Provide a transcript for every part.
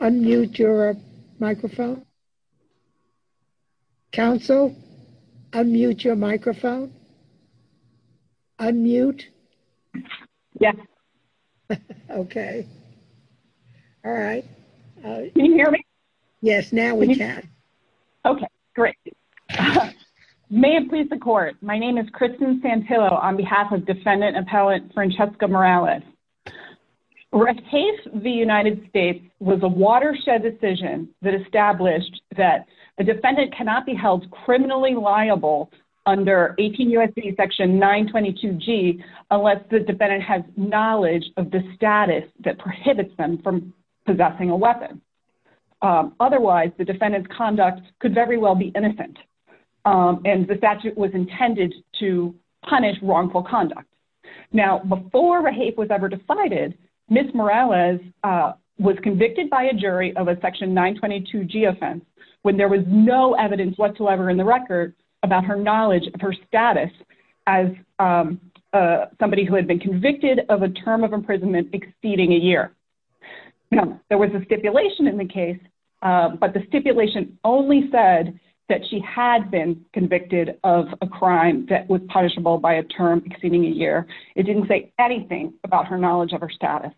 Unmute your microphone. Council, unmute your microphone. Unmute. Yes. Okay. Alright. Can you hear me? Yes, now we can. Okay, great. May it please the court, my name is Kristen Santillo on behalf of defendant appellant Francesca Morales. Reclaiming the United States was a watershed decision that established that a defendant cannot be held criminally liable under 18 U.S.C. section 922G unless the defendant has knowledge of the status that prohibits them from possessing a weapon. Otherwise, the defendant's conduct could very well be innocent and the statute was intended to punish wrongful conduct. Now, before a hate was ever decided, Ms. Morales was convicted by a jury of a section 922G offense when there was no evidence whatsoever in the record about her knowledge of her status as somebody who had been convicted of a term of imprisonment exceeding a year. Now, there was a stipulation in the case, but the stipulation only said that she had been convicted of a crime that was punishable by a term exceeding a year. It didn't say anything about her knowledge of her status.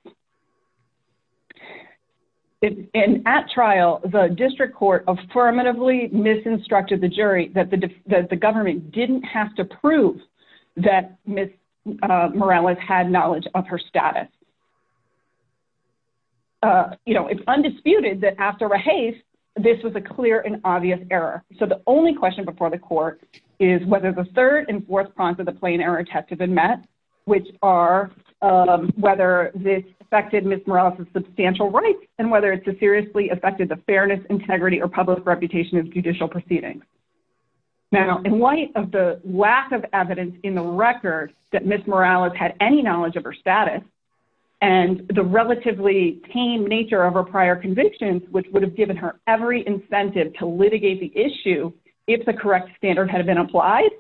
And at trial, the district court affirmatively misinstructed the jury that the government didn't have to prove that Ms. Morales had knowledge of her status. You know, it's undisputed that after a hate, this was a clear and obvious error. So, the only question before the court is whether the third and fourth prongs of the plain error test have been met, which are whether this affected Ms. Morales' substantial rights and whether it seriously affected the fairness, integrity, or public reputation of judicial proceedings. Now, in light of the lack of evidence in the record that Ms. Morales had any knowledge of her status and the relatively tame nature of her prior convictions, which would have given her every incentive to litigate the issue if the correct standard had been applied,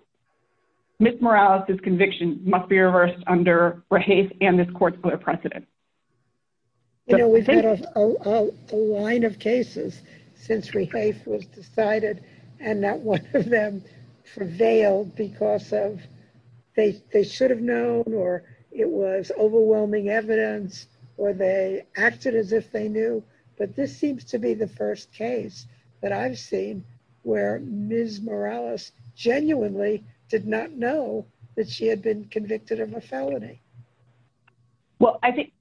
Ms. Morales' conviction must be reversed under Rehafe and this court's clear precedent. You know, we've had a line of cases since Rehafe was decided and not one of them prevailed because of they should have known, or it was overwhelming evidence, or they acted as if they knew. But this seems to be the first case that I've seen where Ms. Morales genuinely did not know that she had been convicted of a felony. Well, I did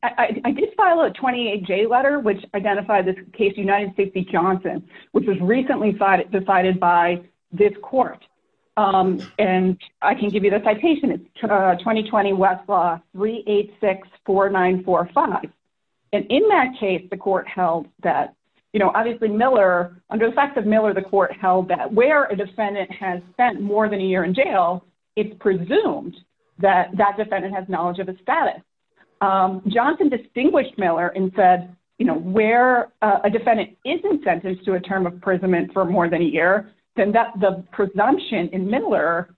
file a 28-J letter, which identified this case, United States v. Johnson, which was recently decided by this court. And I can give you the citation. It's 2020 Westlaw 3864945. And in that case, the court held that, you know, obviously Miller, under the facts of Miller, the court held that where a defendant has spent more than a year in jail, it's presumed that that defendant has knowledge of his status. Johnson distinguished Miller and said, you know, where a defendant isn't sentenced to a term of imprisonment for more than a year, then the presumption in Miller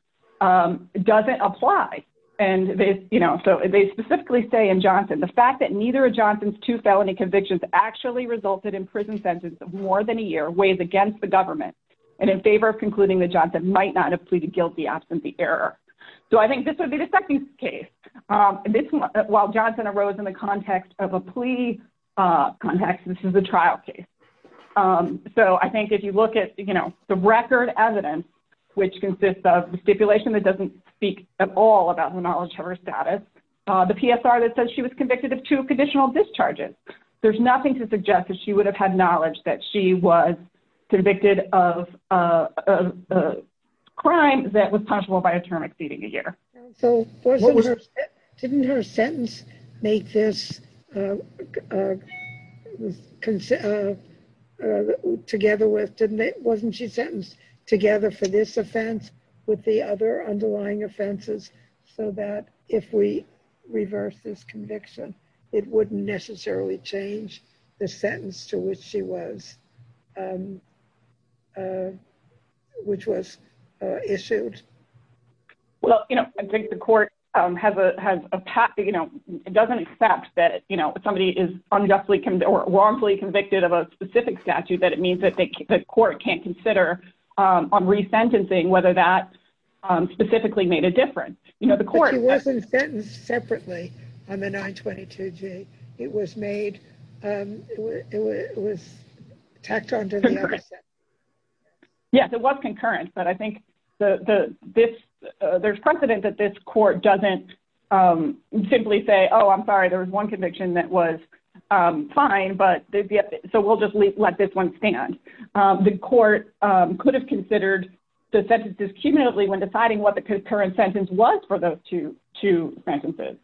doesn't apply. And, you know, so they specifically say in Johnson, the fact that neither of Johnson's two felony convictions actually resulted in prison sentences of more than a year weighs against the government and in favor of concluding that Johnson might not have pleaded guilty absent the error. So I think this would be the second case. While Johnson arose in the context of a plea context, this is a trial case. So I think if you look at, you know, the record evidence, which consists of the stipulation that doesn't speak at all about the knowledge of her status, the PSR that says she was convicted of two conditional discharges, there's nothing to suggest that she would have had knowledge that she was convicted of a crime that was punishable by a term exceeding a year. Didn't her sentence make this together with, wasn't she sentenced together for this offense with the other underlying offenses, so that if we reverse this conviction, it wouldn't necessarily change the sentence to which she was, which was issued? Well, you know, I think the court has a path, you know, it doesn't accept that, you know, if somebody is unjustly or wrongfully convicted of a specific statute, that it means that the court can't consider on resentencing whether that specifically made a difference. You know, the court. But she wasn't sentenced separately on the 922G. It was made, it was tacked onto the other sentence. Yes, it was concurrent, but I think there's precedent that this court doesn't simply say, oh, I'm sorry, there was one conviction that was fine, so we'll just let this one stand. The court could have considered the sentences cumulatively when deciding what the concurrent sentence was for those two sentences.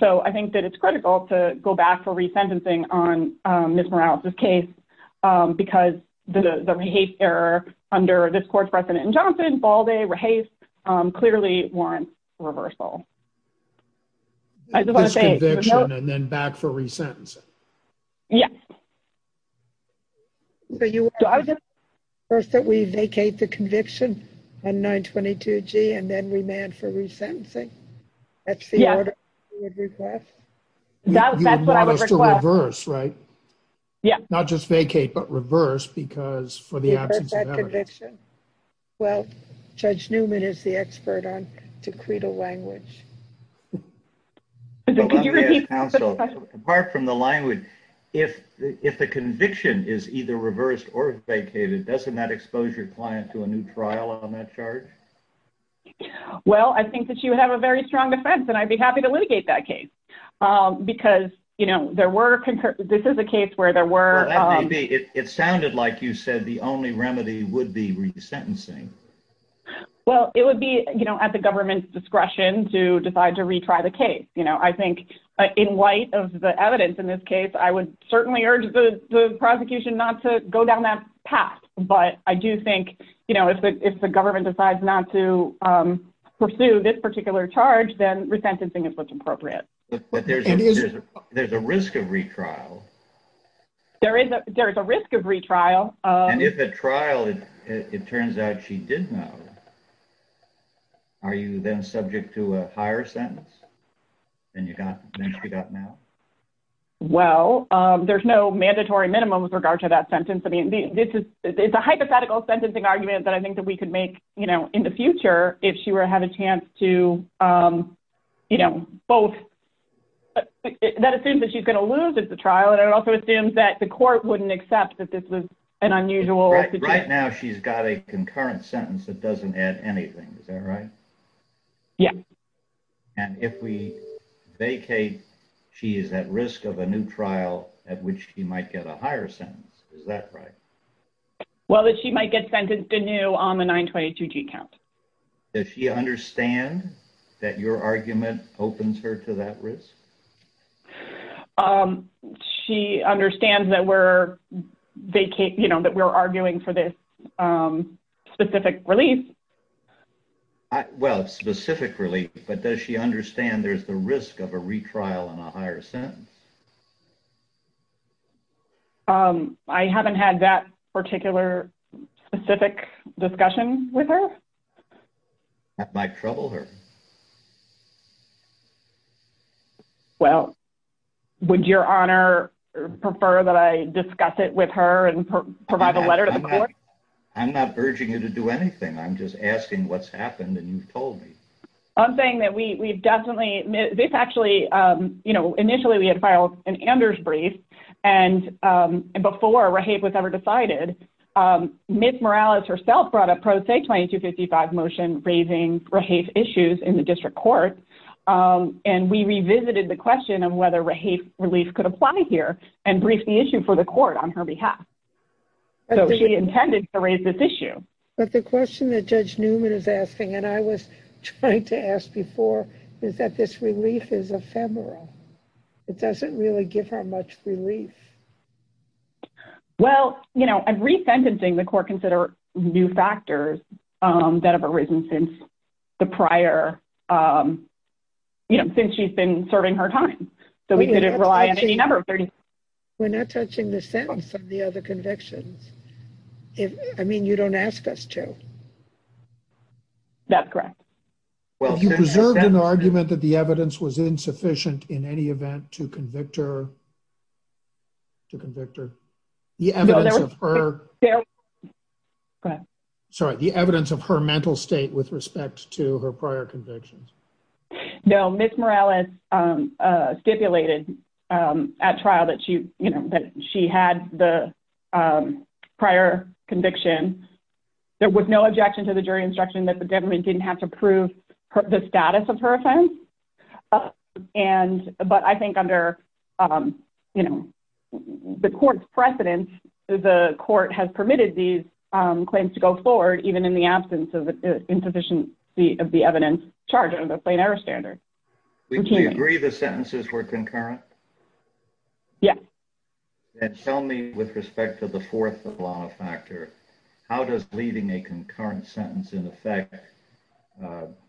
So I think that it's critical to go back for resentencing on Ms. Morales' case, because the rehaste error under this court's precedent in Johnson, Balde, Rehaste, clearly warrants reversal. This conviction and then back for resentencing? Yes. So you want us to reverse that we vacate the conviction on 922G and then remand for resentencing? That's the order you would request? That's what I would request. You would want us to reverse, right? Yeah. Not just vacate, but reverse because for the absence of evidence. Reverse that conviction. Well, Judge Newman is the expert on decreed language. Could you repeat the question? Apart from the language, if the conviction is either reversed or vacated, doesn't that expose your client to a new trial on that charge? Well, I think that you have a very strong defense, and I'd be happy to litigate that case. Because, you know, this is a case where there were... It sounded like you said the only remedy would be resentencing. Well, it would be, you know, at the government's discretion to decide to retry the case. You know, I think in light of the evidence in this case, I would certainly urge the prosecution not to go down that path. But I do think, you know, if the government decides not to pursue this particular charge, then resentencing is what's appropriate. But there's a risk of retrial. There is a risk of retrial. And if at trial it turns out she did know, are you then subject to a higher sentence than she got now? Well, there's no mandatory minimum with regard to that sentence. I mean, it's a hypothetical sentencing argument that I think that we could make, you know, in the future if she were to have a chance to, you know, both... Well, it also assumes that the court wouldn't accept that this was an unusual... Right now, she's got a concurrent sentence that doesn't add anything. Is that right? Yeah. And if we vacate, she is at risk of a new trial at which she might get a higher sentence. Is that right? Well, that she might get sentenced anew on the 922G count. Does she understand that your argument opens her to that risk? She understands that we're vacating, you know, that we're arguing for this specific release. Well, specific release, but does she understand there's the risk of a retrial and a higher sentence? I haven't had that particular specific discussion with her. That might trouble her. Well, would Your Honor prefer that I discuss it with her and provide a letter to the court? I'm not urging you to do anything. I'm just asking what's happened and you've told me. I'm saying that we've definitely... This actually, you know, initially we had filed an Anders brief, and before Rahafe was ever decided, Ms. Morales herself brought a pro se 2255 motion raising Rahafe's issues in the district court, and we revisited the question of whether Rahafe's relief could apply here and briefed the issue for the court on her behalf. So she intended to raise this issue. But the question that Judge Newman is asking, and I was trying to ask before, is that this relief is ephemeral. It doesn't really give her much relief. Well, you know, I'm re-sentencing the court consider new factors that have arisen since the prior, you know, since she's been serving her time. We're not touching the sentence of the other convictions. I mean, you don't ask us to. That's correct. Have you preserved an argument that the evidence was insufficient in any event to convict her? To convict her? Sorry, the evidence of her mental state with respect to her prior convictions. No, Ms. Morales stipulated at trial that she, you know, that she had the prior conviction. There was no objection to the jury instruction that the government didn't have to prove the status of her offense. And, but I think under, you know, the court's precedence, the court has permitted these claims to go forward, even in the absence of the insufficiency of the evidence charged under the plain error standard. Do you agree the sentences were concurrent? Yes. And tell me with respect to the fourth law factor, how does leaving a concurrent sentence in effect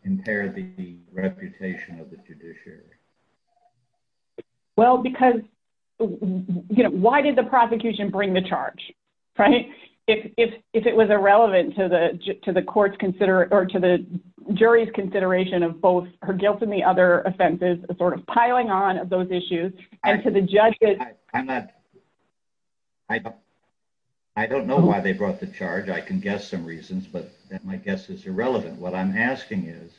impair the reputation of the judiciary? Well, because, you know, why did the prosecution bring the charge, right? If it was irrelevant to the court's consideration or to the jury's consideration of both her guilt and the other offenses, sort of piling on of those issues. I'm not, I don't know why they brought the charge. I can guess some reasons, but my guess is irrelevant. What I'm asking is,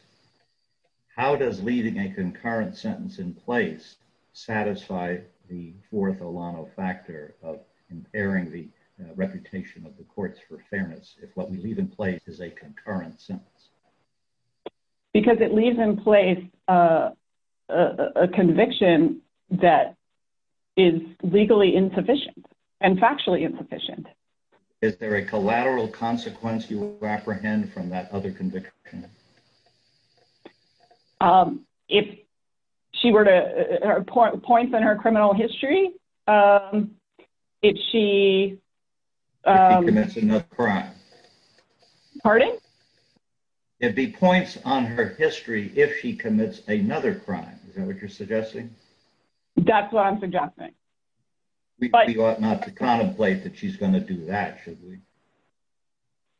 how does leaving a concurrent sentence in place satisfy the fourth Olano factor of impairing the reputation of the courts for fairness if what we leave in place is a concurrent sentence? Because it leaves in place a conviction that is legally insufficient and factually insufficient. Is there a collateral consequence you apprehend from that other conviction? If she were to, points in her criminal history, if she... If she commits another crime. Pardon? It'd be points on her history if she commits another crime. Is that what you're suggesting? That's what I'm suggesting. We ought not to contemplate that she's going to do that, should we?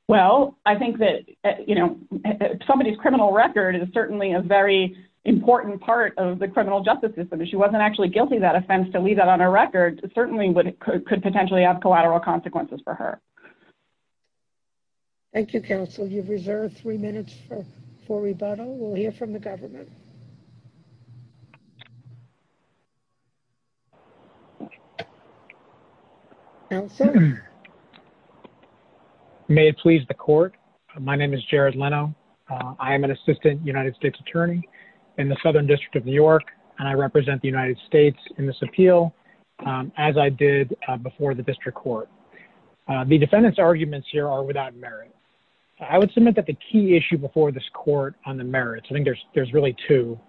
Well, I think that, you know, somebody's criminal record is certainly a very important part of the criminal justice system. If she wasn't actually guilty of that offense to leave that on her record, it certainly could potentially have collateral consequences for her. Thank you, counsel. You've reserved three minutes for rebuttal. We'll hear from the government. May it please the court. My name is Jared Leno. I am an assistant United States attorney in the Southern District of New York, and I represent the United States in this appeal, as I did before the district court. The defendant's arguments here are without merit. I would submit that the key issue before this court on the merits, I think there's really two.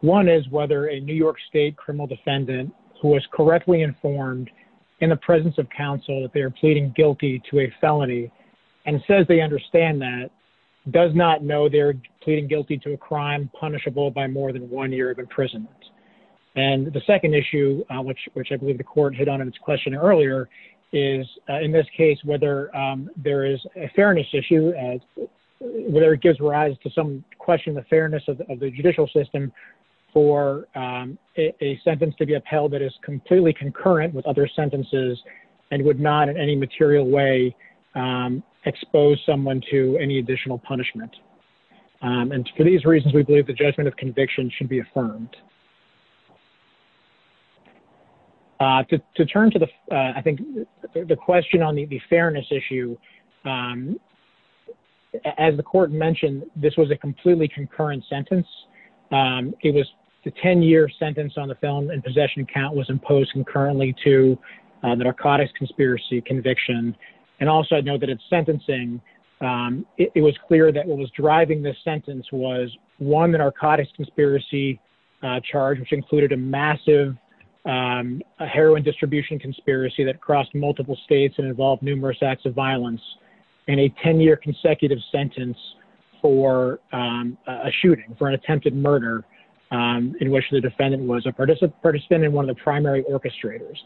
One is whether a New York State criminal defendant who is correctly informed in the presence of counsel that they are pleading guilty to a felony, and says they understand that, does not know they're pleading guilty to a crime punishable by more than one year of imprisonment. And the second issue, which I believe the court hit on in its question earlier, is, in this case, whether there is a fairness issue, whether it gives rise to some question of the fairness of the judicial system for a sentence to be upheld that is completely concurrent with other sentences, and would not in any material way expose someone to any additional punishment. And for these reasons, we believe the judgment of conviction should be affirmed. To turn to the, I think, the question on the fairness issue. As the court mentioned, this was a completely concurrent sentence. It was the 10 year sentence on the film and possession count was imposed concurrently to the narcotics conspiracy conviction. And also I know that it's sentencing. It was clear that what was driving this sentence was one narcotics conspiracy charge, which included a massive heroin distribution conspiracy that crossed multiple states and involved numerous acts of violence, and a 10 year consecutive sentence for a shooting, for an attempted murder, in which the defendant was a participant in one of the primary orchestrators.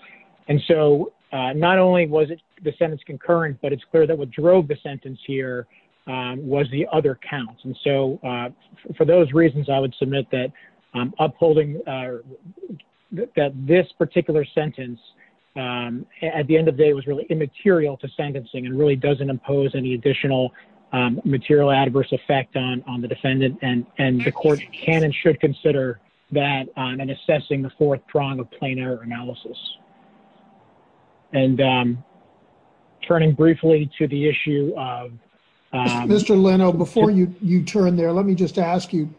And so not only was the sentence concurrent, but it's clear that what drove the sentence here was the other counts. And so for those reasons, I would submit that upholding that this particular sentence at the end of the day was really immaterial to sentencing and really doesn't impose any additional material adverse effect on the defendant. And the court can and should consider that and assessing the fourth prong of plain error analysis. And I'm turning briefly to the issue of... Mr. Leno, before you turn there, let me just ask you,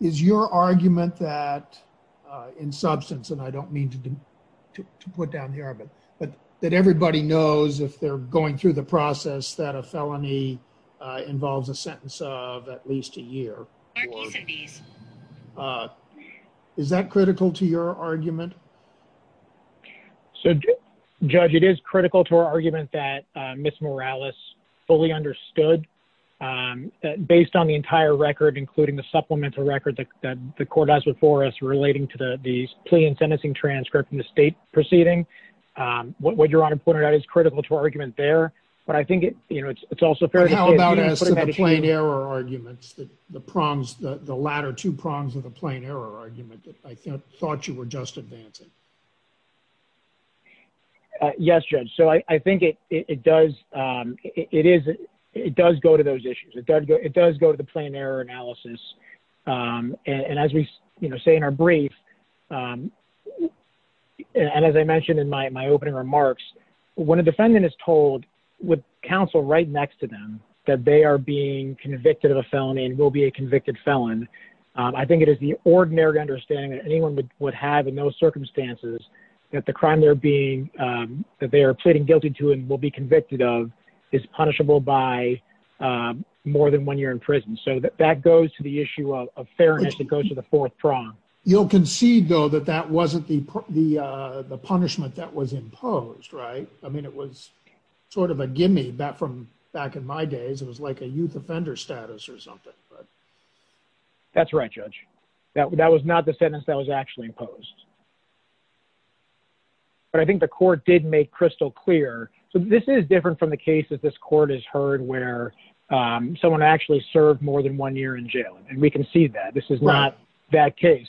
is your argument that in substance, and I don't mean to put down the argument, but that everybody knows if they're going through the process that a felony involves a sentence of at least a year. Is that critical to your argument? So, Judge, it is critical to our argument that Ms. Morales fully understood, based on the entire record, including the supplemental record that the court has before us, relating to the plea and sentencing transcript in the state proceeding. What Your Honor pointed out is critical to our argument there, but I think it's also fair to say... How about as to the plain error arguments, the prongs, the latter two prongs of the plain error argument, that I thought you were just advancing? Yes, Judge. So I think it does go to those issues. It does go to the plain error analysis. And as we say in our brief, and as I mentioned in my opening remarks, when a defendant is told with counsel right next to them, that they are being convicted of a felony and will be a convicted felon, I think it is the ordinary understanding that anyone would have in those circumstances that the crime they are pleading guilty to and will be convicted of is punishable by more than one year in prison. So that goes to the issue of fairness. It goes to the fourth prong. You'll concede, though, that that wasn't the punishment that was imposed, right? I mean, it was sort of a gimme from back in my days. It was like a youth offender status or something. That's right, Judge. That was not the sentence that was actually imposed. But I think the court did make crystal clear. So this is different from the cases this court has heard where someone actually served more than one year in jail, and we concede that. This is not that case.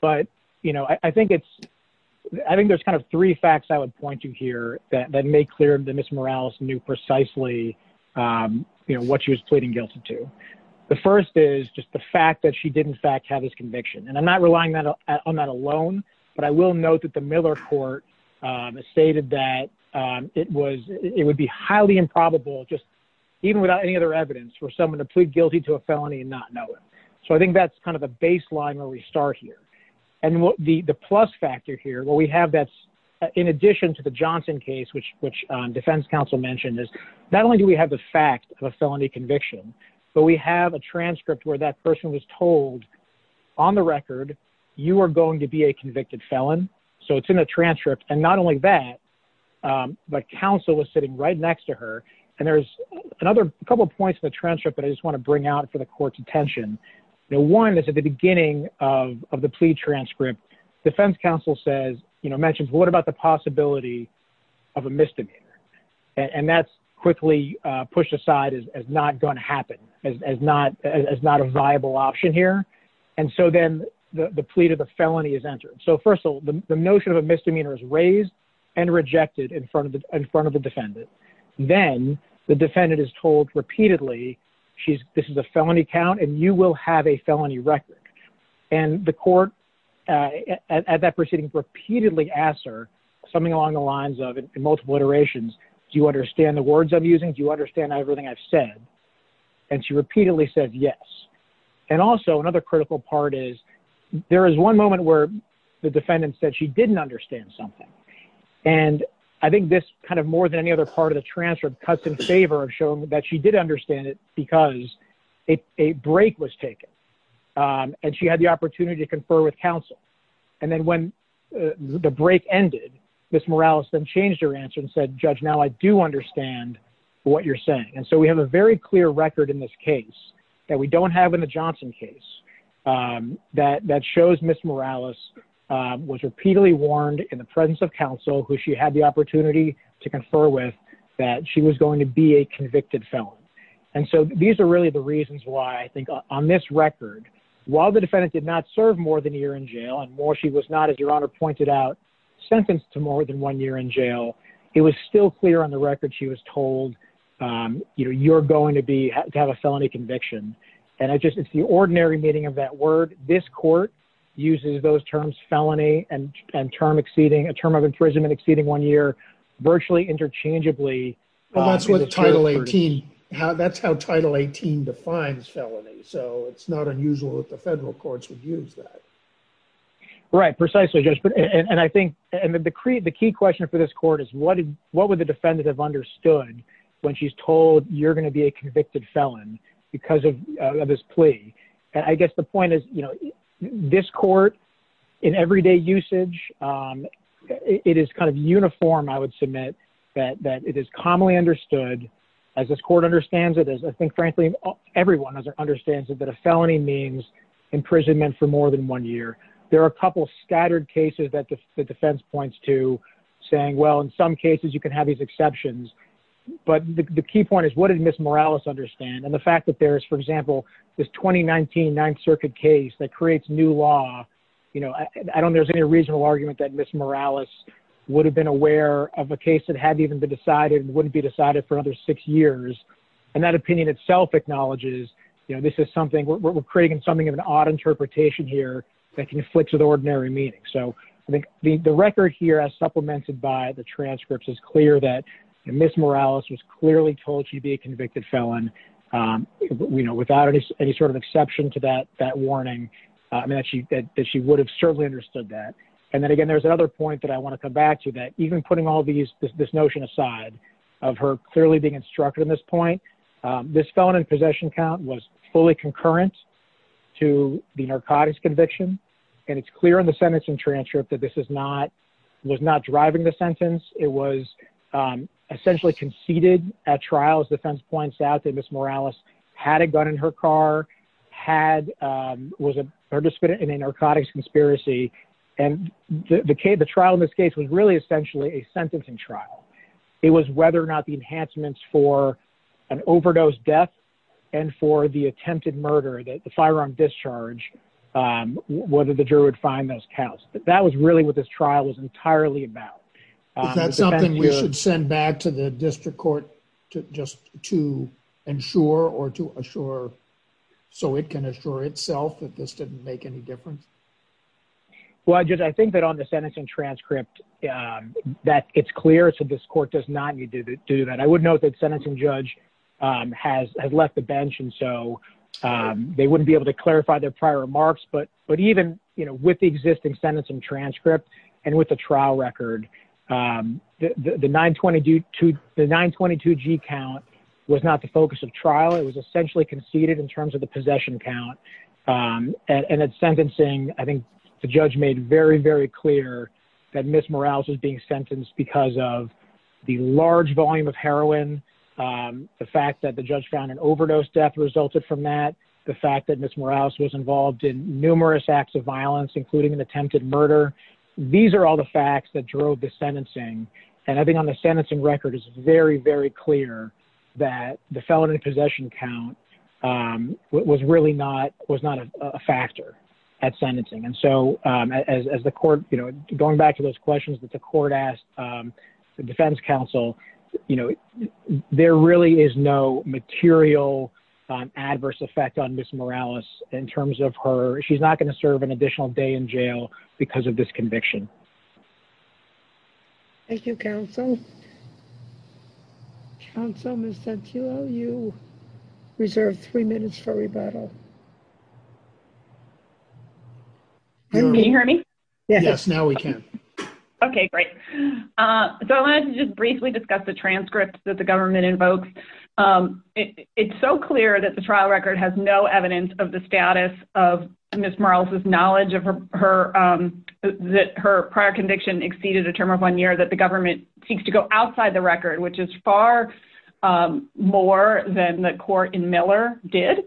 But I think there's kind of three facts I would point to here that make clear that Ms. Morales knew precisely what she was pleading guilty to. The first is just the fact that she did, in fact, have this conviction. And I'm not relying on that alone, but I will note that the Miller court stated that it would be highly improbable, just even without any other evidence, for someone to plead guilty to a felony and not know it. So I think that's kind of a baseline where we start here. And the plus factor here, what we have that's in addition to the Johnson case, which Defense Counsel mentioned, is not only do we have the fact of a felony conviction, but we have a transcript where that person was told, on the record, you are going to be a convicted felon. So it's in the transcript. And not only that, but counsel was sitting right next to her. And there's a couple of points in the transcript that I just want to bring out for the court's attention. One is at the beginning of the plea transcript, Defense Counsel mentions, what about the possibility of a misdemeanor? And that's quickly pushed aside as not going to happen, as not a viable option here. And so then the plea to the felony is entered. So first of all, the notion of a misdemeanor is raised and rejected in front of the defendant. Then the defendant is told repeatedly, this is a felony count, and you will have a felony record. And the court at that proceeding repeatedly asks her something along the lines of, in multiple iterations, do you understand the words I'm using? Do you understand everything I've said? And she repeatedly said yes. And also another critical part is there is one moment where the defendant said she didn't understand something. And I think this kind of more than any other part of the transcript cuts in favor of showing that she did understand it because a break was taken. And she had the opportunity to confer with counsel. And then when the break ended, Ms. Morales then changed her answer and said, judge, now I do understand what you're saying. And so we have a very clear record in this case that we don't have in the Johnson case that shows Ms. Morales was repeatedly warned in the presence of counsel, who she had the opportunity to confer with, that she was going to be a convicted felon. And so these are really the reasons why I think on this record, while the defendant did not serve more than a year in jail and more she was not, as your honor pointed out, sentenced to more than one year in jail. It was still clear on the record she was told, you know, you're going to be to have a felony conviction. And I just, it's the ordinary meaning of that word. This court uses those terms felony and term exceeding a term of imprisonment exceeding one year, virtually interchangeably. That's what title 18. That's how title 18 defines felony. So it's not unusual that the federal courts would use that. Right, precisely. And I think the key question for this court is what did, what would the defendant have understood when she's told you're going to be a convicted felon because of this plea. And I guess the point is, you know, this court in everyday usage, it is kind of uniform. I would submit that, that it is commonly understood as this court understands it, as I think, frankly, I think everyone understands that a felony means imprisonment for more than one year. There are a couple of scattered cases that the defense points to saying, well, in some cases you can have these exceptions, but the key point is what did Ms. Morales understand? And the fact that there is, for example, this 2019 ninth circuit case that creates new law, you know, I don't, there's any reasonable argument that Ms. Morales would have been aware of a case that hadn't even been decided and wouldn't be decided for another six years. And that opinion itself acknowledges, you know, this is something we're, we're creating something of an odd interpretation here that conflicts with ordinary meaning. So I think the record here as supplemented by the transcripts is clear that Ms. Morales was clearly told she'd be a convicted felon. You know, without any, any sort of exception to that, that warning, I mean, that she, that she would have certainly understood that. And then again, there's another point that I want to come back to that, even putting all these, this, this notion aside of her clearly being instructed in this point, this felon in possession count was fully concurrent to the narcotics conviction. And it's clear in the sentence and transcript that this is not, was not driving the sentence. It was essentially conceded at trials. Defense points out that Ms. Morales had a gun in her car, had, was a participant in a narcotics conspiracy. And the, the trial in this case was really essentially a sentencing trial. It was whether or not the enhancements for an overdose death and for the attempted murder, that the firearm discharge, whether the juror would find those counts, but that was really what this trial was entirely about. Is that something we should send back to the district court to just to ensure or to assure so it can assure itself that this didn't make any difference? Well, I just, I think that on the sentence and transcript that it's clear. So this court does not need to do that. I would note that sentencing judge has, has left the bench. And so they, wouldn't be able to clarify their prior remarks, but, but even, you know, with the existing sentence and transcript and with the trial record, the, the nine 22 to the nine 22 G count was not the focus of trial. It was essentially conceded in terms of the possession count. And at sentencing, I think the judge made very, very clear that Ms. Morales was being sentenced because of the large volume of heroin. The fact that the judge found an overdose death resulted from that. The fact that Ms. Morales was involved in numerous acts of violence, including an attempted murder. These are all the facts that drove the sentencing. And I think on the sentencing record is very, very clear that the felony possession count was really not, was not a factor at sentencing. And so as, as the court, you know, going back to those questions that the court asked the defense counsel, you know, there really is no material adverse effect on Ms. Morales in terms of her, she's not going to serve an additional day in jail because of this conviction. Okay. Thank you. Thank you. Thank you. Thank you. Thank you. Thank you. Thank you. Thank you. Thank you. Counsel. You reserve three minutes for rebuttal. Can you hear me? Yes. Now we can. Okay, great. So I wanted to just briefly discuss the transcript that the government invokes. It's so clear that the trial record has no evidence of the status of Ms. Morales' knowledge that her prior conviction exceeded a term of one year that the government seeks to go outside the record, which is far more than the court in Miller did,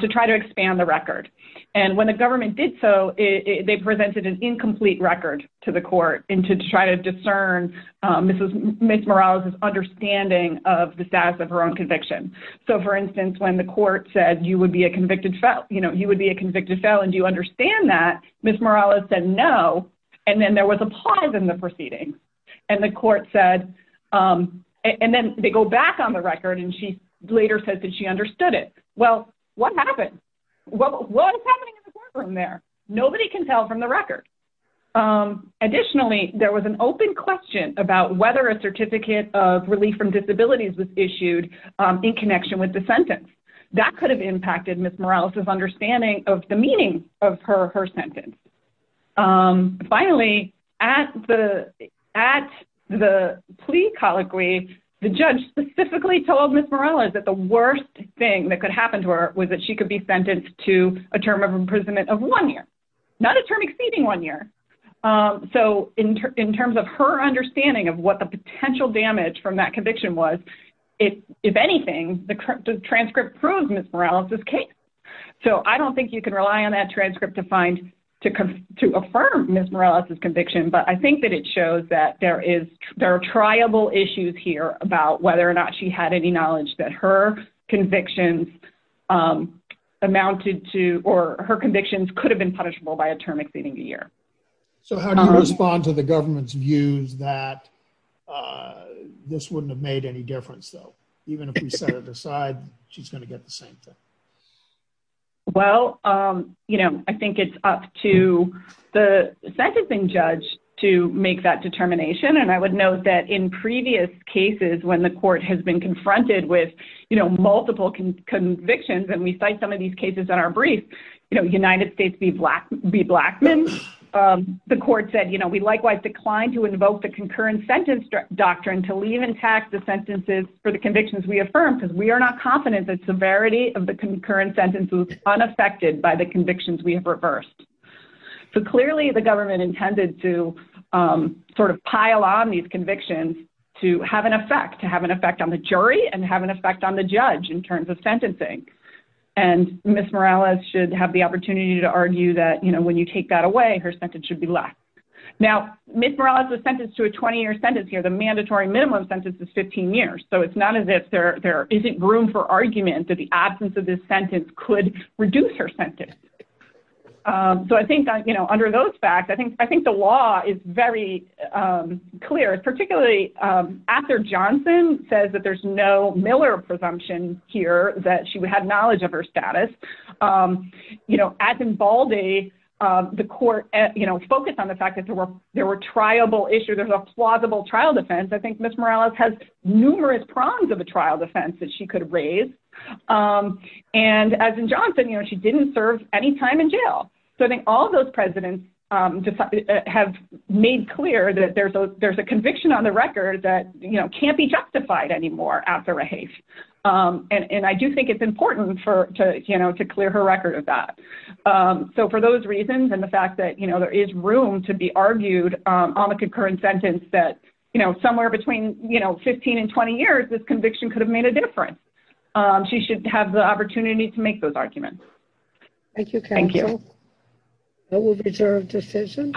to try to expand the record. And when the government did so, they presented an incomplete record to the court and to try to discern Ms. Morales' understanding of the status of her own conviction. So, for instance, when the court said you would be a convicted felon, you know, you would be a convicted felon, do you understand that, Ms. Morales said no, and then there was a pause in the proceeding. And the court said, and then they go back on the record and she later says that she understood it. Well, what happened? What was happening in the courtroom there? Nobody can tell from the record. Additionally, there was an open question about whether a certificate of relief from disabilities was issued in connection with the sentence. That could have impacted Ms. Morales' understanding of the meaning of her sentence. Finally, at the plea colloquy, the judge specifically told Ms. Morales that the worst thing that could happen to her was that she could be sentenced to a term of imprisonment of one year, not a term exceeding one year. So, in terms of her understanding of what the potential damage from that conviction was, if anything, the transcript proves Ms. Morales' case. So, I don't think you can rely on that transcript to affirm Ms. Morales' conviction, but I think that it shows that there are triable issues here about whether or not she had any knowledge that her convictions amounted to or her convictions could have been punishable by a sentence. So, how do you respond to the government's views that this wouldn't have made any difference, though? Even if we set it aside, she's going to get the same thing. Well, you know, I think it's up to the sentencing judge to make that determination, and I would note that in previous cases when the court has been confronted with, you know, multiple convictions, and we cite some of them, the court said, you know, we likewise declined to invoke the concurrent sentence doctrine to leave intact the sentences for the convictions we affirmed because we are not confident that severity of the concurrent sentences was unaffected by the convictions we have reversed. So, clearly, the government intended to sort of pile on these convictions to have an effect, to have an effect on the jury and have an effect on the judge in terms of sentencing, and Ms. Morales should have the opportunity to argue that, you know, when you take that away, her sentence should be less. Now, Ms. Morales is sentenced to a 20-year sentence here. The mandatory minimum sentence is 15 years. So, it's not as if there isn't room for argument that the absence of this sentence could reduce her sentence. So, I think, you know, under those facts, I think the law is very clear, particularly Ather Johnson says that there's no Miller presumption here that she had knowledge of her status. You know, as in Baldy, the court, you know, focused on the fact that there were triable issues, there's a plausible trial defense. I think Ms. Morales has numerous prongs of a trial defense that she could raise. And as in Johnson, you know, she didn't serve any time in jail. So, I think all those presidents have made clear that there's a conviction on the record that, you know, can't be justified anymore after a haste. And I do think it's important for, you know, to clear her record of that. So, for those reasons and the fact that, you know, there is room to be argued on the concurrent sentence that, you know, somewhere between, you know, 15 and 20 years, this conviction could have made a difference. She should have the opportunity to make those arguments. Thank you, counsel. Thank you. That will be a reserved decision.